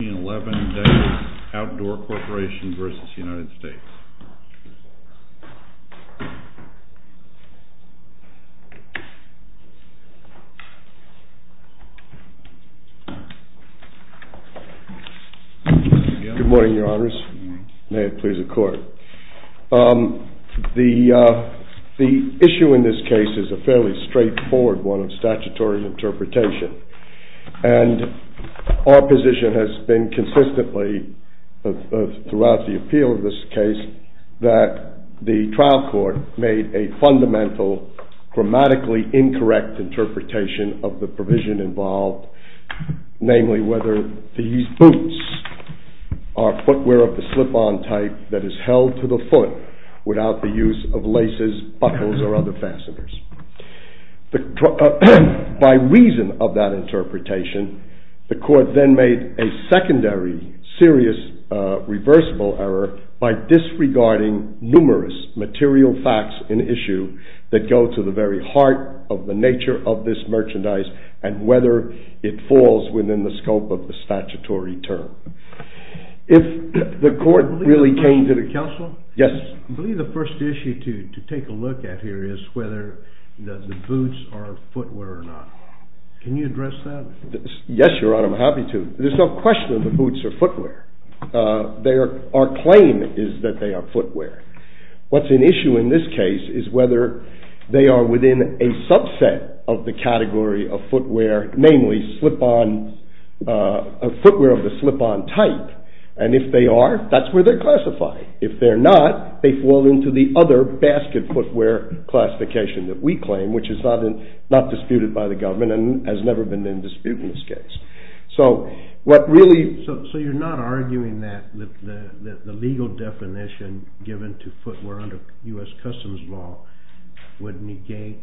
Good morning, your honors. May it please the court. The issue in this case is a fairly throughout the appeal of this case that the trial court made a fundamental grammatically incorrect interpretation of the provision involved, namely whether these boots are footwear of the slip-on type that is held to the foot without the use of laces, buckles, or other fasteners. By reason of that interpretation, the court then made a secondary, serious, reversible error by disregarding numerous material facts in issue that go to the very heart of the nature of this merchandise and whether it falls within the scope of the statutory term. I believe the first issue to take a look at here is whether the boots are footwear or not. Can you address that? Yes, your honor, I'm happy to. There's no question the boots are footwear. Our claim is that they are footwear. What's at issue in this case is whether they are within a subset of the category of footwear, namely footwear of the slip-on type, and if they are, that's where they're classified. If they're not, they fall into the other basket footwear classification that we claim, which is not disputed by the government and has never been in dispute in this case. So you're not arguing that the legal definition given to footwear under U.S. Customs law would negate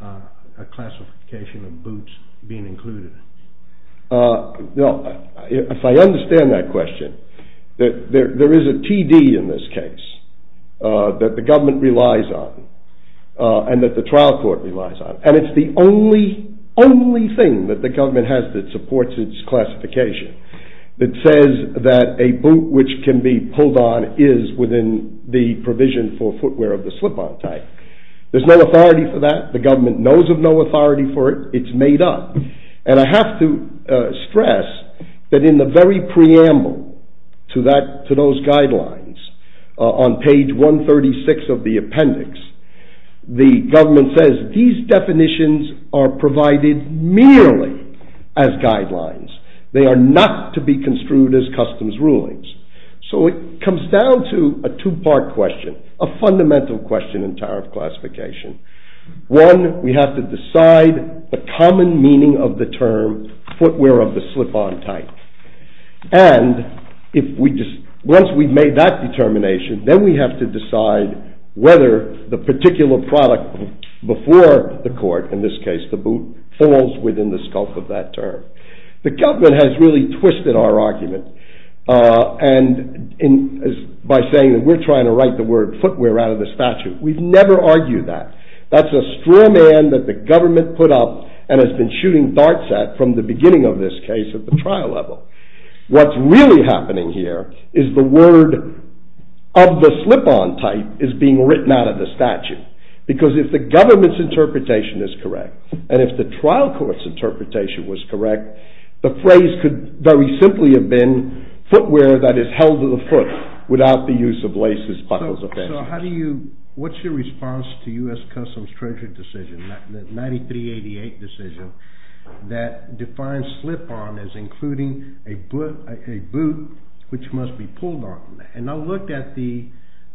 a classification of boots being included? If I understand that question, there is a TD in this case that the government relies on and that the trial court relies on, and it's the only thing that the government has that supports its classification that says that a boot which can be pulled on is within the provision for footwear of the slip-on type. There's no authority for that. The government knows of no authority for it. It's made up. And I have to stress that in the very preamble to those guidelines, on page 136 of the appendix, the government says these definitions are provided merely as guidelines. They are not to be construed as customs rulings. So it comes down to a two-part question, a fundamental question in tariff classification. One, we have to decide the common meaning of the term footwear of the slip-on type. And once we've made that determination, then we have to decide whether the particular product before the court, in this case the boot, falls within the scope of that term. The government has really twisted our argument by saying that we're trying to write the word footwear out of the statute. We've never argued that. That's a straw man that the government put up and has been shooting darts at from the beginning of this case at the trial level. What's really happening here is the word of the slip-on type is being written out of the statute. Because if the government's interpretation is correct, and if the trial court's interpretation was correct, the phrase could very simply have been footwear that is held to the foot without the use of laces, buckles, or fans. So what's your response to U.S. Customs Treasury decision, the 9388 decision, that defines slip-on as including a boot which must be pulled on? And I looked at the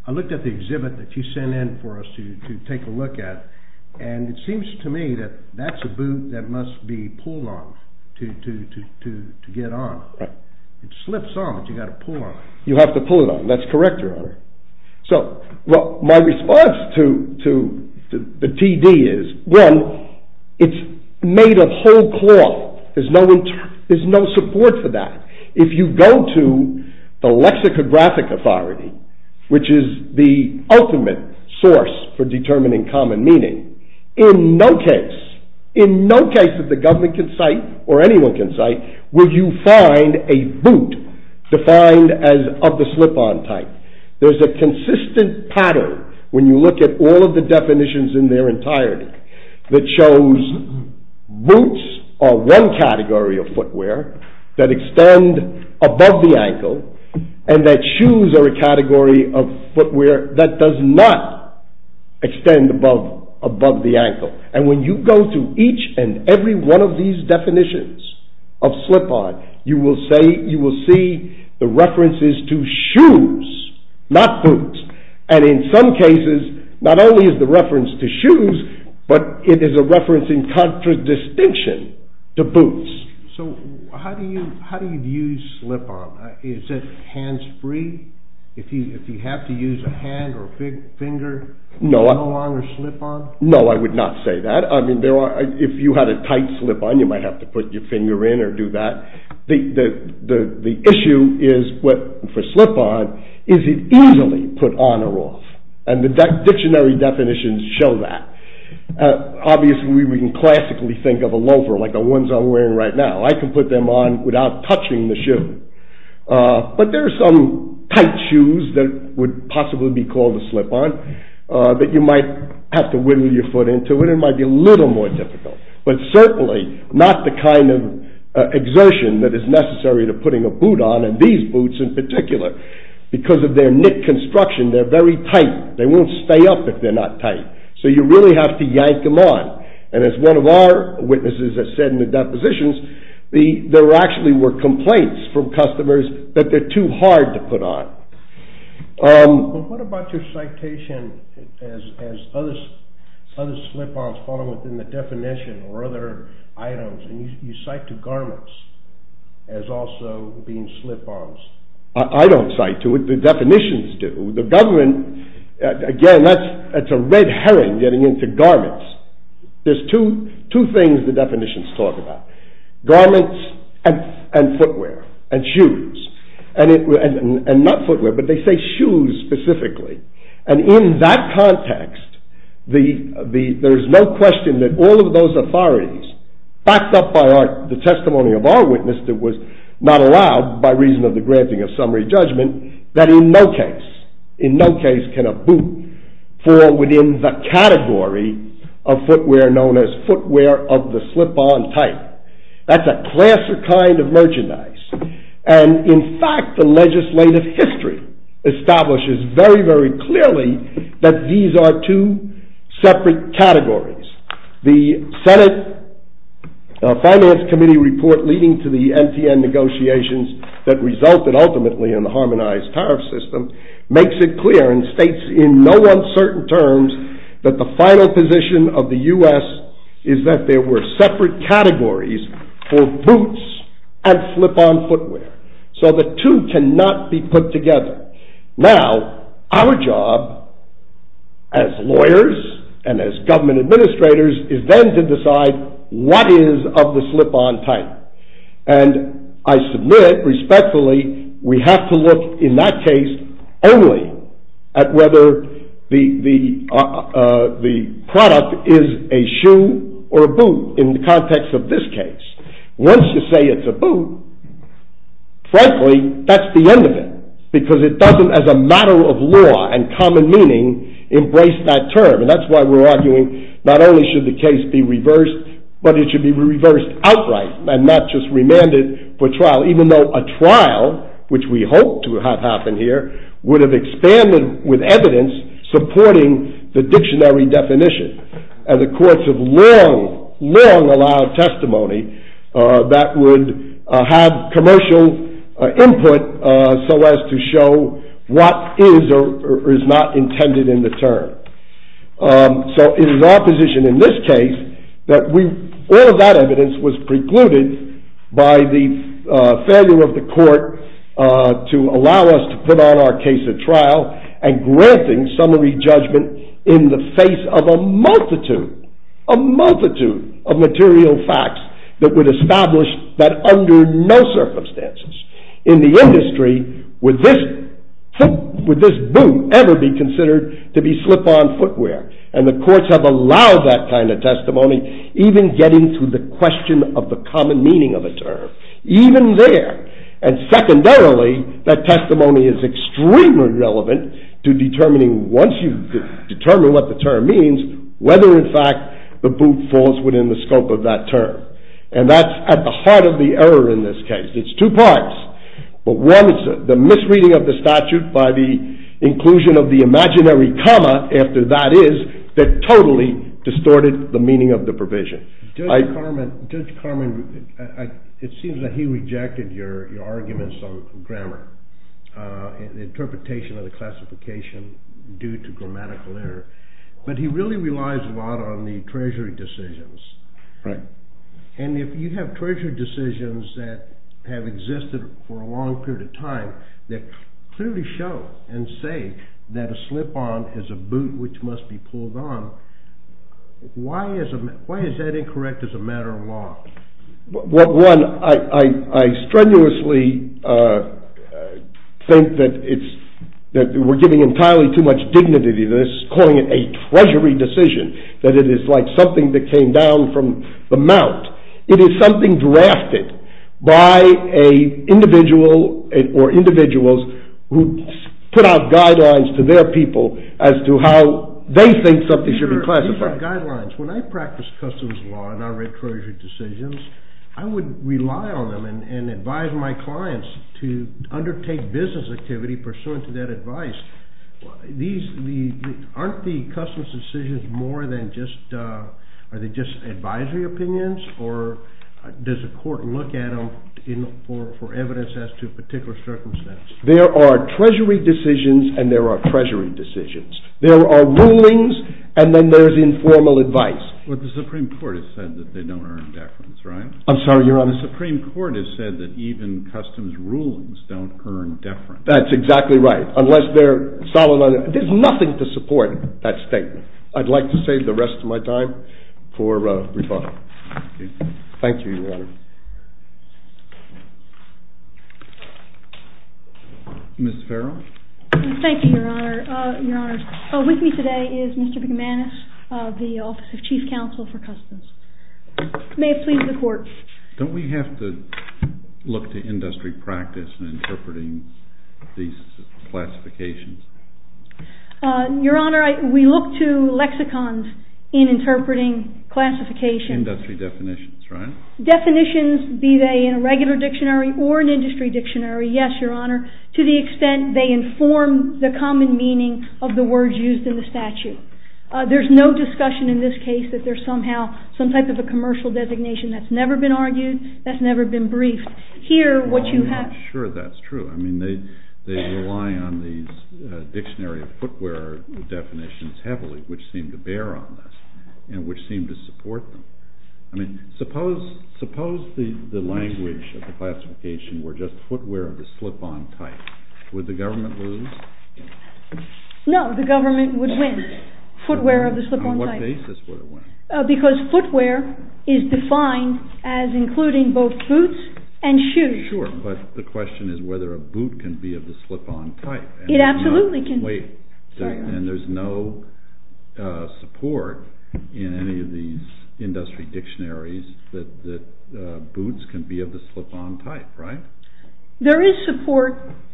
exhibit that you sent in for us to take a look at, and it seems to me that that's a boot that must be pulled on to get on. It slips on, but you've got to pull on it. You have to pull it on. That's correct, Your Honor. So my response to the TD is, one, it's made of whole cloth. There's no support for that. If you go to the lexicographic authority, which is the ultimate source for determining common meaning, in no case, in no case that the government can cite or anyone can cite, will you find a boot defined as of the slip-on type. There's a consistent pattern when you look at all of the definitions in their entirety that shows boots are one category of footwear that extend above the ankle, and that shoes are a category of footwear that does not extend above the ankle. And when you go through each and every one of these definitions of slip-on, you will see the references to shoes, not boots. And in some cases, not only is the reference to shoes, but it is a reference in contradistinction to boots. So how do you view slip-on? Is it hands-free? If you have to use a hand or a finger, no longer slip-on? And the dictionary definitions show that. Obviously, we can classically think of a loafer like the ones I'm wearing right now. I can put them on without touching the shoe. But there are some tight shoes that would possibly be called a slip-on that you might have to whittle your foot into, and it might be a little more difficult. But certainly, not the kind of exertion that is necessary to putting a boot on, and these boots in particular. Because of their knit construction, they're very tight. They won't stay up if they're not tight. So you really have to yank them on. And as one of our witnesses has said in the depositions, there actually were complaints from customers that they're too hard to put on. But what about your citation as other slip-ons fall within the definition or other items? You cite to garments as also being slip-ons. I don't cite to it. The definitions do. The government, again, that's a red herring getting into garments. There's two things the definitions talk about. Garments and footwear and shoes. And not footwear, but they say shoes specifically. And in that context, there's no question that all of those authorities, backed up by the testimony of our witness that was not allowed by reason of the granting of summary judgment, that in no case can a boot fall within the category of footwear known as footwear of the slip-on type. That's a class or kind of merchandise. And in fact, the legislative history establishes very, very clearly that these are two separate categories. The Senate Finance Committee report leading to the NTN negotiations that resulted ultimately in the harmonized tariff system makes it clear and states in no uncertain terms that the final position of the U.S. is that there were separate categories for boots and slip-on footwear. So the two cannot be put together. Now, our job as lawyers and as government administrators is then to decide what is of the slip-on type. And I submit, respectfully, we have to look in that case only at whether the product is a shoe or a boot in the context of this case. Once you say it's a boot, frankly, that's the end of it. Because it doesn't, as a matter of law and common meaning, embrace that term. And that's why we're arguing not only should the case be reversed, but it should be reversed outright and not just remanded for trial. Even though a trial, which we hope to have happen here, would have expanded with evidence supporting the dictionary definition. And the courts have long, long allowed testimony that would have commercial input so as to show what is or is not intended in the term. So it is our position in this case that all of that evidence was precluded by the failure of the court to allow us to put on our case at trial and granting summary judgment in the face of a multitude, a multitude of material facts that would establish that under no circumstances in the industry would this boot ever be considered to be slip-on footwear. And the courts have allowed that kind of testimony, even getting to the question of the common meaning of a term. Even there. And secondarily, that testimony is extremely relevant to determining, once you determine what the term means, whether in fact the boot falls within the scope of that term. And that's at the heart of the error in this case. It's two parts. One is the misreading of the statute by the inclusion of the imaginary comma after that is that totally distorted the meaning of the provision. Judge Carman, it seems that he rejected your arguments on grammar, the interpretation of the classification due to grammatical error. But he really relies a lot on the treasury decisions. And if you have treasury decisions that have existed for a long period of time that clearly show and say that a slip-on is a boot which must be pulled on, why is that incorrect as a matter of law? Well, one, I strenuously think that we're giving entirely too much dignity to this, calling it a treasury decision, that it is like something that came down from the mount. It is something drafted by an individual or individuals who put out guidelines to their people as to how they think something should be classified. When I practice customs law and I write treasury decisions, I would rely on them and advise my clients to undertake business activity pursuant to that advice. Aren't the customs decisions more than just advisory opinions, or does the court look at them for evidence as to a particular circumstance? There are treasury decisions and there are treasury decisions. There are rulings and then there's informal advice. But the Supreme Court has said that they don't earn deference, right? I'm sorry, Your Honor? The Supreme Court has said that even customs rulings don't earn deference. That's exactly right, unless they're solid on it. There's nothing to support that statement. I'd like to save the rest of my time for rebuttal. Thank you, Your Honor. Ms. Farrell? Thank you, Your Honor. With me today is Mr. McManus of the Office of Chief Counsel for Customs. May it please the Court. Don't we have to look to industry practice in interpreting these classifications? Your Honor, we look to lexicons in interpreting classifications. Industry definitions, right? Definitions, be they in a regular dictionary or an industry dictionary, yes, Your Honor, to the extent they inform the common meaning of the words used in the statute. There's no discussion in this case that there's somehow some type of a commercial designation that's never been argued, that's never been briefed. I'm not sure that's true. I mean, they rely on these dictionary footwear definitions heavily, which seem to bear on this and which seem to support them. I mean, suppose the language of the classification were just footwear of the slip-on type. Would the government lose? No, the government would win, footwear of the slip-on type. On what basis would it win? Because footwear is defined as including both boots and shoes. Sure, but the question is whether a boot can be of the slip-on type. It absolutely can. And there's no support in any of these industry dictionaries that boots can be of the slip-on type, right? There is support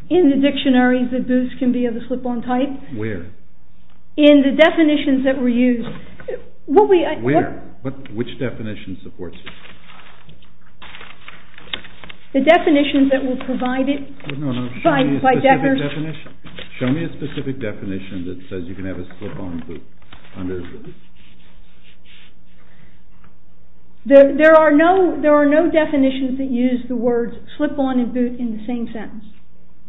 in the dictionaries that boots can be of the slip-on type. Where? In the definitions that were used. Where? Which definition supports it? The definitions that were provided by Decker. Show me a specific definition that says you can have a slip-on boot. There are no definitions that use the words slip-on and boot in the same sentence.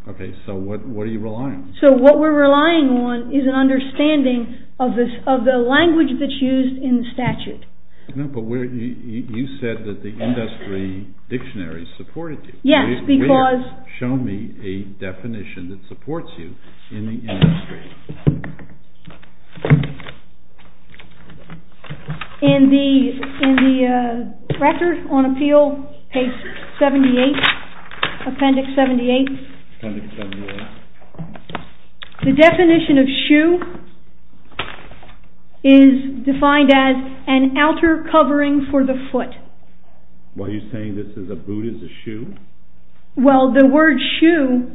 Okay, so what are you relying on? So what we're relying on is an understanding of the language that's used in the statute. No, but you said that the industry dictionaries supported you. Yes, because... Show me a definition that supports you in the industry. In the Record on Appeal, page 78, appendix 78, the definition of shoe is defined as an outer covering for the foot. What, are you saying that a boot is a shoe? Well, the word shoe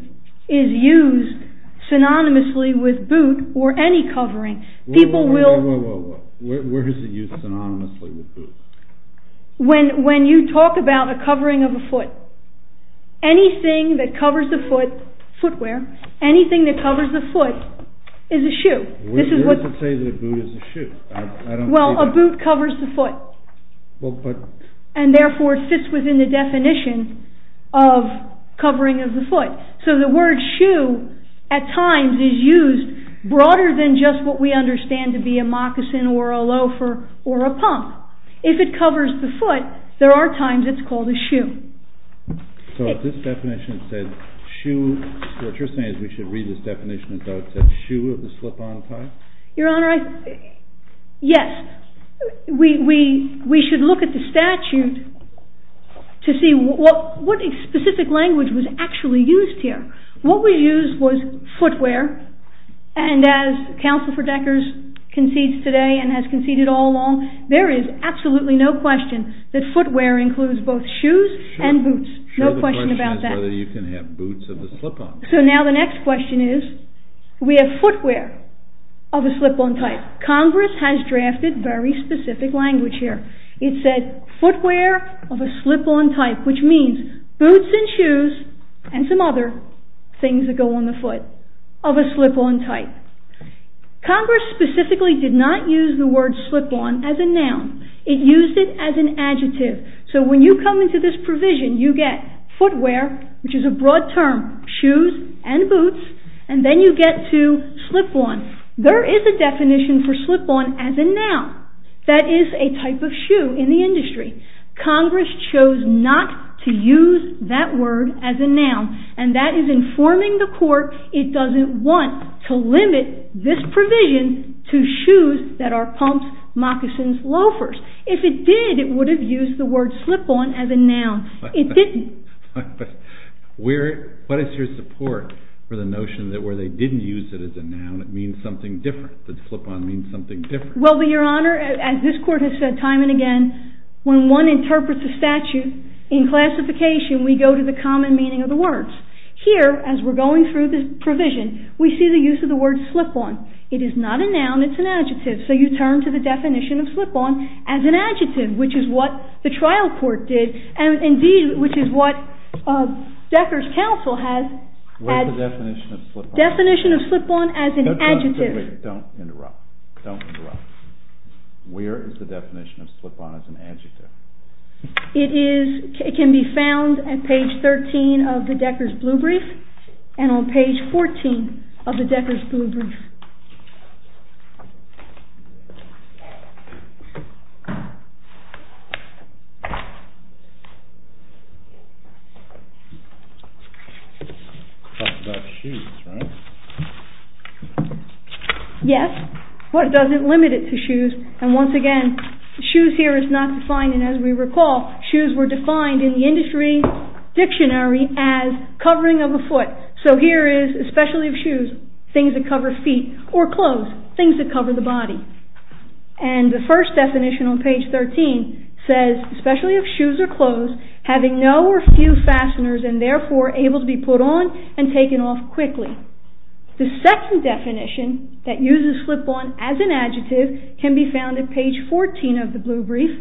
is used synonymously with boot or any covering. People will... Wait, wait, wait, where is it used synonymously with boot? When you talk about a covering of a foot, anything that covers the foot, footwear, anything that covers the foot is a shoe. Where does it say that a boot is a shoe? Well, a boot covers the foot, and therefore it fits within the definition of covering of the foot. So the word shoe at times is used broader than just what we understand to be a moccasin or a loafer or a pump. If it covers the foot, there are times it's called a shoe. So if this definition said shoe, what you're saying is we should read this definition as though it said shoe of the slip-on type? Your Honor, yes. We should look at the statute to see what specific language was actually used here. What was used was footwear, and as Counsel for Deckers concedes today and has conceded all along, there is absolutely no question that footwear includes both shoes and boots. Sure, the question is whether you can have boots of the slip-on type. So now the next question is, we have footwear of a slip-on type. Congress has drafted very specific language here. It said footwear of a slip-on type, which means boots and shoes and some other things that go on the foot of a slip-on type. Congress specifically did not use the word slip-on as a noun. It used it as an adjective. So when you come into this provision, you get footwear, which is a broad term, shoes and boots, and then you get to slip-on. There is a definition for slip-on as a noun. Congress chose not to use that word as a noun, and that is informing the court it doesn't want to limit this provision to shoes that are pumps, moccasins, loafers. If it did, it would have used the word slip-on as a noun. It didn't. What is your support for the notion that where they didn't use it as a noun, it means something different, that slip-on means something different? Well, Your Honor, as this court has said time and again, when one interprets a statute in classification, we go to the common meaning of the words. Here, as we're going through this provision, we see the use of the word slip-on. It is not a noun. It's an adjective. So you turn to the definition of slip-on as an adjective, which is what the trial court did, and indeed, which is what Decker's counsel had. What's the definition of slip-on? Definition of slip-on as an adjective. Don't interrupt. Don't interrupt. Where is the definition of slip-on as an adjective? It can be found at page 13 of the Decker's Blue Brief and on page 14 of the Decker's Blue Brief. Talk about shoes, right? Yes. What does it limit it to shoes? And once again, shoes here is not defined, and as we recall, shoes were defined in the industry dictionary as covering of a foot. So here is, especially of shoes, things that cover feet or clothes, things that cover the body. And the first definition on page 13 says, especially of shoes or clothes, having no or few fasteners and therefore able to be put on and taken off quickly. The second definition that uses slip-on as an adjective can be found at page 14 of the Blue Brief.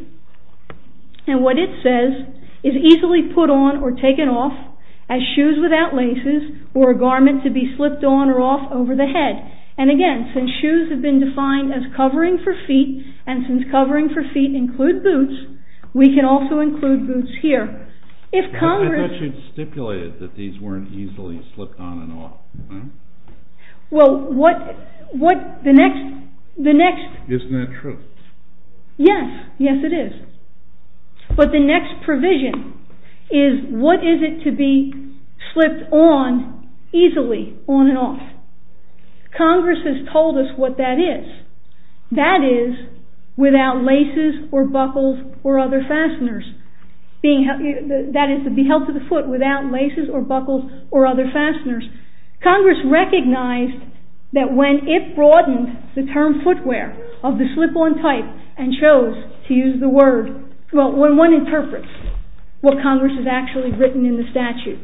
And what it says is easily put on or taken off as shoes without laces or a garment to be slipped on or off over the head. And again, since shoes have been defined as covering for feet, and since covering for feet include boots, we can also include boots here. I thought you'd stipulated that these weren't easily slipped on and off. Well, what the next... Isn't that true? Yes, yes it is. But the next provision is what is it to be slipped on easily, on and off. Congress has told us what that is. That is without laces or buckles or other fasteners. That is to be held to the foot without laces or buckles or other fasteners. Congress recognized that when it broadened the term footwear of the slip-on type and chose to use the word... Well, when one interprets what Congress has actually written in the statute.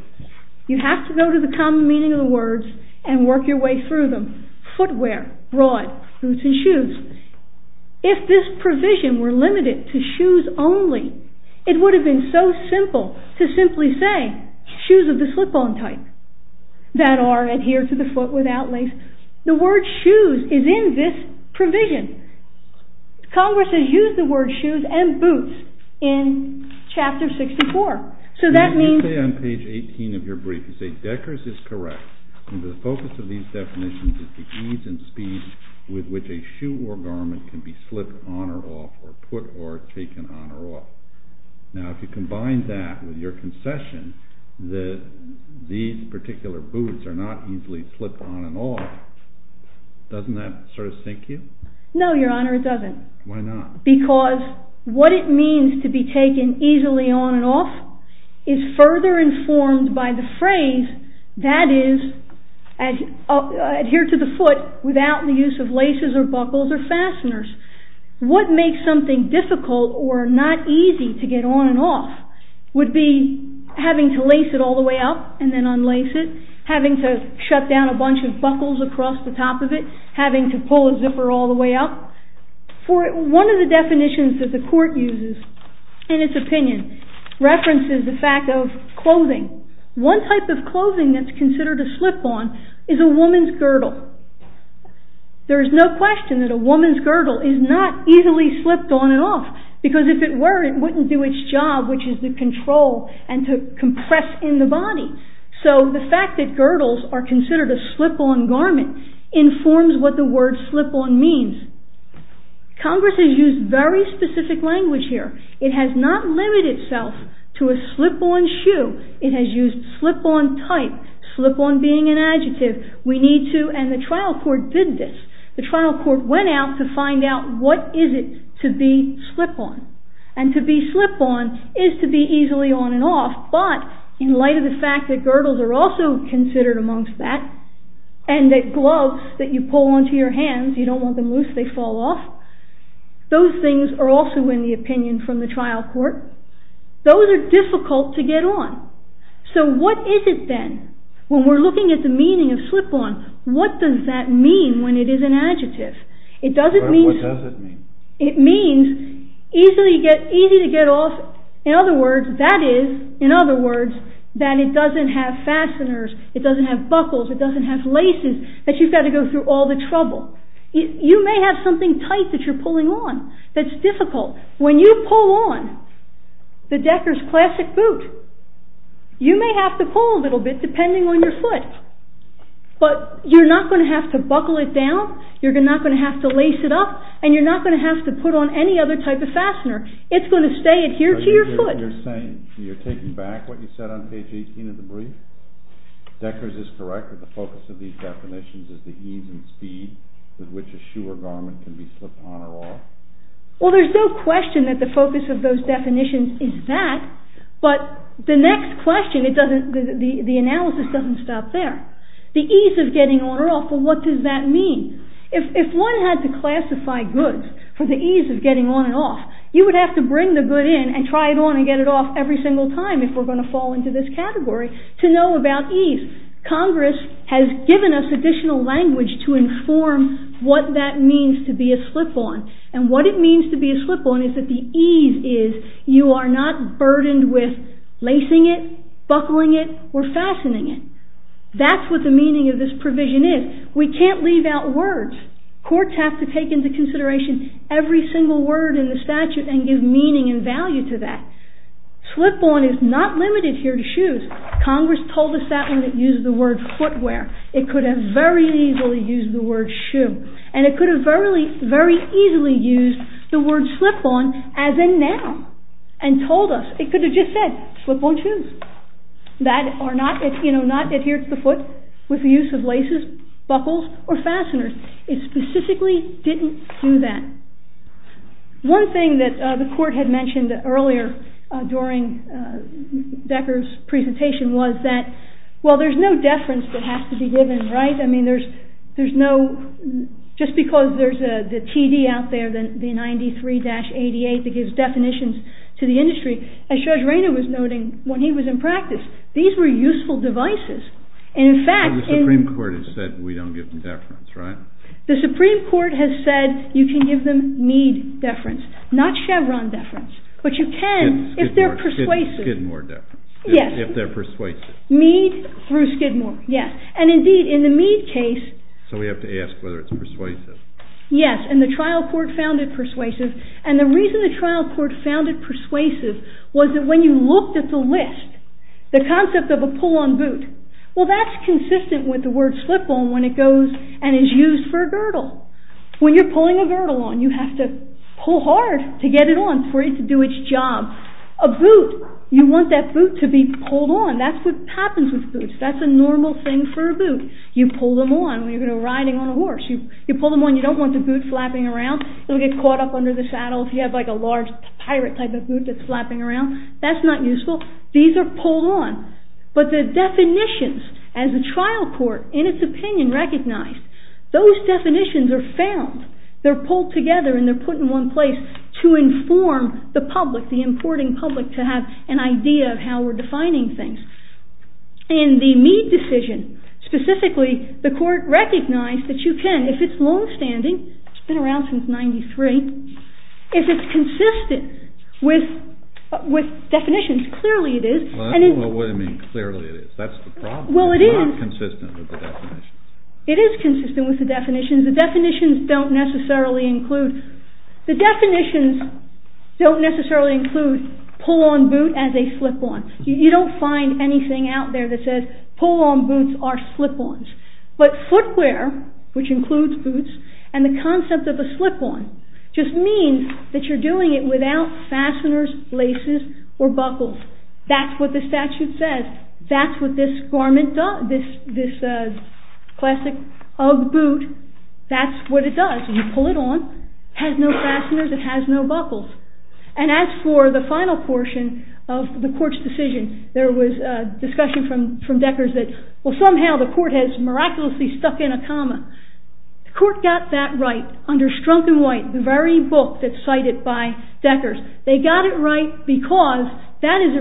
You have to go to the common meaning of the words and work your way through them. Footwear, broad, boots and shoes. If this provision were limited to shoes only, it would have been so simple to simply say shoes of the slip-on type. That are adhered to the foot without lace. The word shoes is in this provision. Congress has used the word shoes and boots in chapter 64. So that means... Let's say on page 18 of your brief you say Decker's is correct. The focus of these definitions is the ease and speed with which a shoe or garment can be slipped on or off or put or taken on or off. Now if you combine that with your concession that these particular boots are not easily slipped on and off, doesn't that sort of sink you? No, your honor, it doesn't. Why not? Because what it means to be taken easily on and off is further informed by the phrase that is adhered to the foot without the use of laces or buckles or fasteners. What makes something difficult or not easy to get on and off would be having to lace it all the way up and then unlace it. Having to shut down a bunch of buckles across the top of it. Having to pull a zipper all the way up. One of the definitions that the court uses in its opinion references the fact of clothing. One type of clothing that's considered a slip-on is a woman's girdle. There's no question that a woman's girdle is not easily slipped on and off because if it were, it wouldn't do its job which is to control and to compress in the body. The fact that girdles are considered a slip-on garment informs what the word slip-on means. Congress has used very specific language here. It has not limited itself to a slip-on shoe. It has used slip-on type. Slip-on being an adjective. The trial court did this. The trial court went out to find out what is it to be slip-on. To be slip-on is to be easily on and off but in light of the fact that girdles are also considered amongst that and that gloves that you pull onto your hands, you don't want them loose, they fall off. Those things are also in the opinion from the trial court. Those are difficult to get on. What is it then? When we're looking at the meaning of slip-on, what does that mean when it is an adjective? What does it mean? It means easy to get off. In other words, that is that it doesn't have fasteners. It doesn't have buckles. It doesn't have laces that you've got to go through all the trouble. You may have something tight that you're pulling on that's difficult. When you pull on the Decker's classic boot, you may have to pull a little bit depending on your foot, but you're not going to have to buckle it down, you're not going to have to lace it up, and you're not going to have to put on any other type of fastener. It's going to stay adhered to your foot. You're saying you're taking back what you said on page 18 of the brief? Decker's is correct that the focus of these definitions is the ease and speed with which a shoe or garment can be slip-on or off. Well, there's no question that the focus of those definitions is that, but the next question, the analysis doesn't stop there. The ease of getting on or off, well, what does that mean? If one had to classify goods for the ease of getting on and off, you would have to bring the good in and try it on and get it off every single time if we're going to fall into this category to know about ease. Congress has given us additional language to inform what that means to be a slip-on, and what it means to be a slip-on is that the ease is you are not burdened with lacing it, buckling it, or fastening it. That's what the meaning of this provision is. We can't leave out words. Courts have to take into consideration every single word in the statute and give meaning and value to that. Slip-on is not limited here to shoes. Congress told us that when it used the word footwear. It could have very easily used the word shoe, and it could have very easily used the word slip-on as in now and told us. It could have just said slip-on shoes that are not adhered to the foot with the use of laces, buckles, or fasteners. It specifically didn't do that. One thing that the court had mentioned earlier during Decker's presentation was that, well, there's no deference that has to be given, right? I mean, there's no—just because there's the TD out there, the 93-88, that gives definitions to the industry, as Judge Rayner was noting when he was in practice, these were useful devices. In fact— The Supreme Court has said we don't give deference, right? The Supreme Court has said you can give them Mead deference, not Chevron deference, but you can if they're persuasive. Skidmore deference. Yes. If they're persuasive. Mead through Skidmore, yes. And indeed, in the Mead case— So we have to ask whether it's persuasive. Yes, and the trial court found it persuasive, and the reason the trial court found it persuasive was that when you looked at the list, the concept of a pull-on boot, well, that's consistent with the word slip-on when it goes and is used for a girdle. When you're pulling a girdle on, you have to pull hard to get it on for it to do its job. A boot, you want that boot to be pulled on. That's what happens with boots. That's a normal thing for a boot. You pull them on when you're riding on a horse. You pull them on, you don't want the boot flapping around. It'll get caught up under the saddle if you have like a large pirate type of boot that's flapping around. That's not useful. These are pulled on. But the definitions, as the trial court, in its opinion, recognized, those definitions are found. They're pulled together and they're put in one place to inform the public, the importing public, to have an idea of how we're defining things. In the Mead decision, specifically, the court recognized that you can, if it's longstanding—it's been around since 93—if it's consistent with definitions, clearly it is. I don't know what I mean, clearly it is. That's the problem. It's not consistent with the definitions. It is consistent with the definitions. The definitions don't necessarily include pull-on boot as a slip-on. You don't find anything out there that says pull-on boots are slip-ons. But footwear, which includes boots, and the concept of a slip-on, just means that you're doing it without fasteners, laces, or buckles. That's what the statute says. That's what this classic Ugg boot, that's what it does. You pull it on, it has no fasteners, it has no buckles. And as for the final portion of the court's decision, there was discussion from Deckers that somehow the court has miraculously stuck in a comma. The court got that right under Strunk and White, the very book that's cited by Deckers. They got it right because that is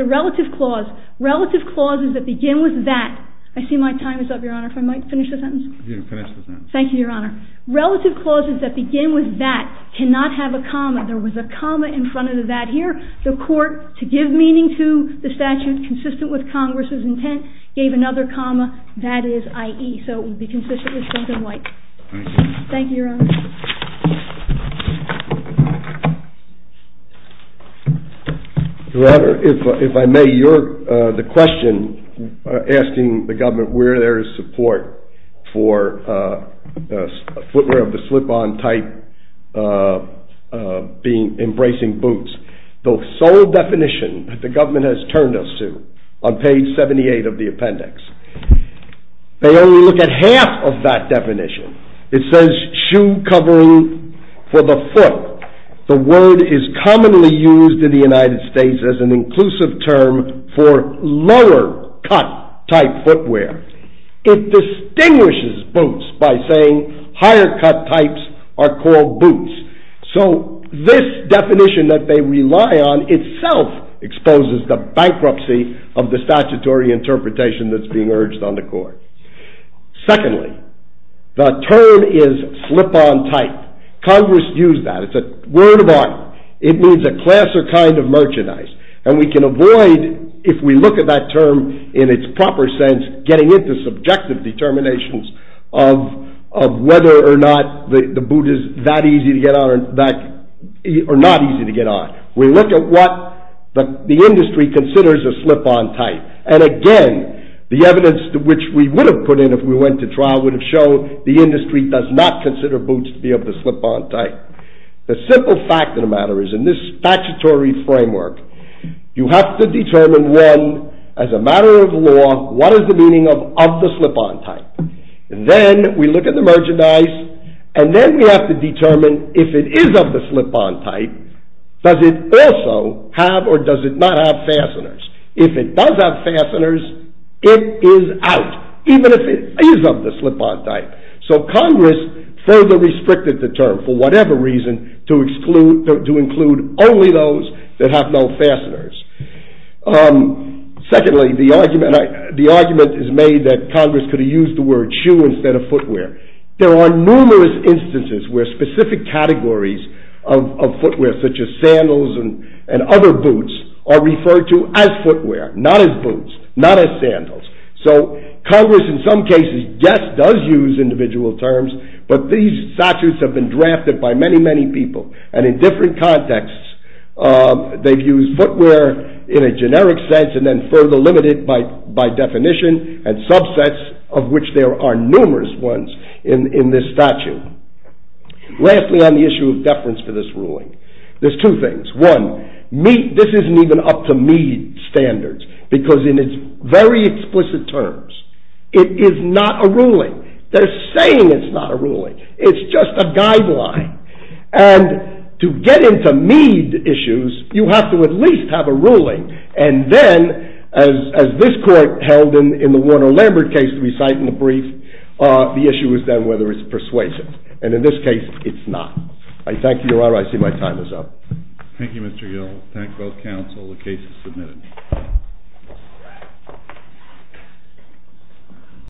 a relative clause. Relative clauses that begin with that. I see my time is up, Your Honor, if I might finish the sentence? You can finish the sentence. Thank you, Your Honor. Relative clauses that begin with that cannot have a comma. There was a comma in front of the that here. The court, to give meaning to the statute consistent with Congress's intent, gave another comma, that is, i.e. So it would be consistent with Strunk and White. Thank you. Thank you, Your Honor. Your Honor, if I may, the question asking the government where there is support for footwear of the slip-on type embracing boots. The sole definition that the government has turned us to on page 78 of the appendix, they only look at half of that definition. It says shoe covering for the foot. The word is commonly used in the United States as an inclusive term for lower cut type footwear. It distinguishes boots by saying higher cut types are called boots. So this definition that they rely on itself exposes the bankruptcy of the statutory interpretation that's being urged on the court. Secondly, the term is slip-on type. Congress used that. It's a word of honor. It means a class or kind of merchandise. And we can avoid, if we look at that term in its proper sense, getting into subjective determinations of whether or not the boot is that easy to get on or not easy to get on. We look at what the industry considers a slip-on type. And again, the evidence which we would have put in if we went to trial would have shown the industry does not consider boots to be of the slip-on type. The simple fact of the matter is in this statutory framework, you have to determine when, as a matter of law, what is the meaning of of the slip-on type. And then we look at the merchandise, and then we have to determine if it is of the slip-on type, does it also have or does it not have fasteners? If it does have fasteners, it is out, even if it is of the slip-on type. So Congress further restricted the term for whatever reason to include only those that have no fasteners. Secondly, the argument is made that Congress could have used the word shoe instead of footwear. There are numerous instances where specific categories of footwear, such as sandals and other boots, are referred to as footwear, not as boots, not as sandals. So Congress in some cases, yes, does use individual terms, but these statutes have been drafted by many, many people. And in different contexts, they've used footwear in a generic sense and then further limited by definition and subsets of which there are numerous ones in this statute. Lastly, on the issue of deference for this ruling, there's two things. One, this isn't even up to Meade standards, because in its very explicit terms, it is not a ruling. They're saying it's not a ruling. It's just a guideline. And to get into Meade issues, you have to at least have a ruling. And then, as this court held in the Warner-Lambert case to be cited in the brief, the issue is then whether it's persuasive. And in this case, it's not. I thank you, Your Honor. I see my time is up. Thank you, Mr. Gill. Thank both counsel. The case is submitted.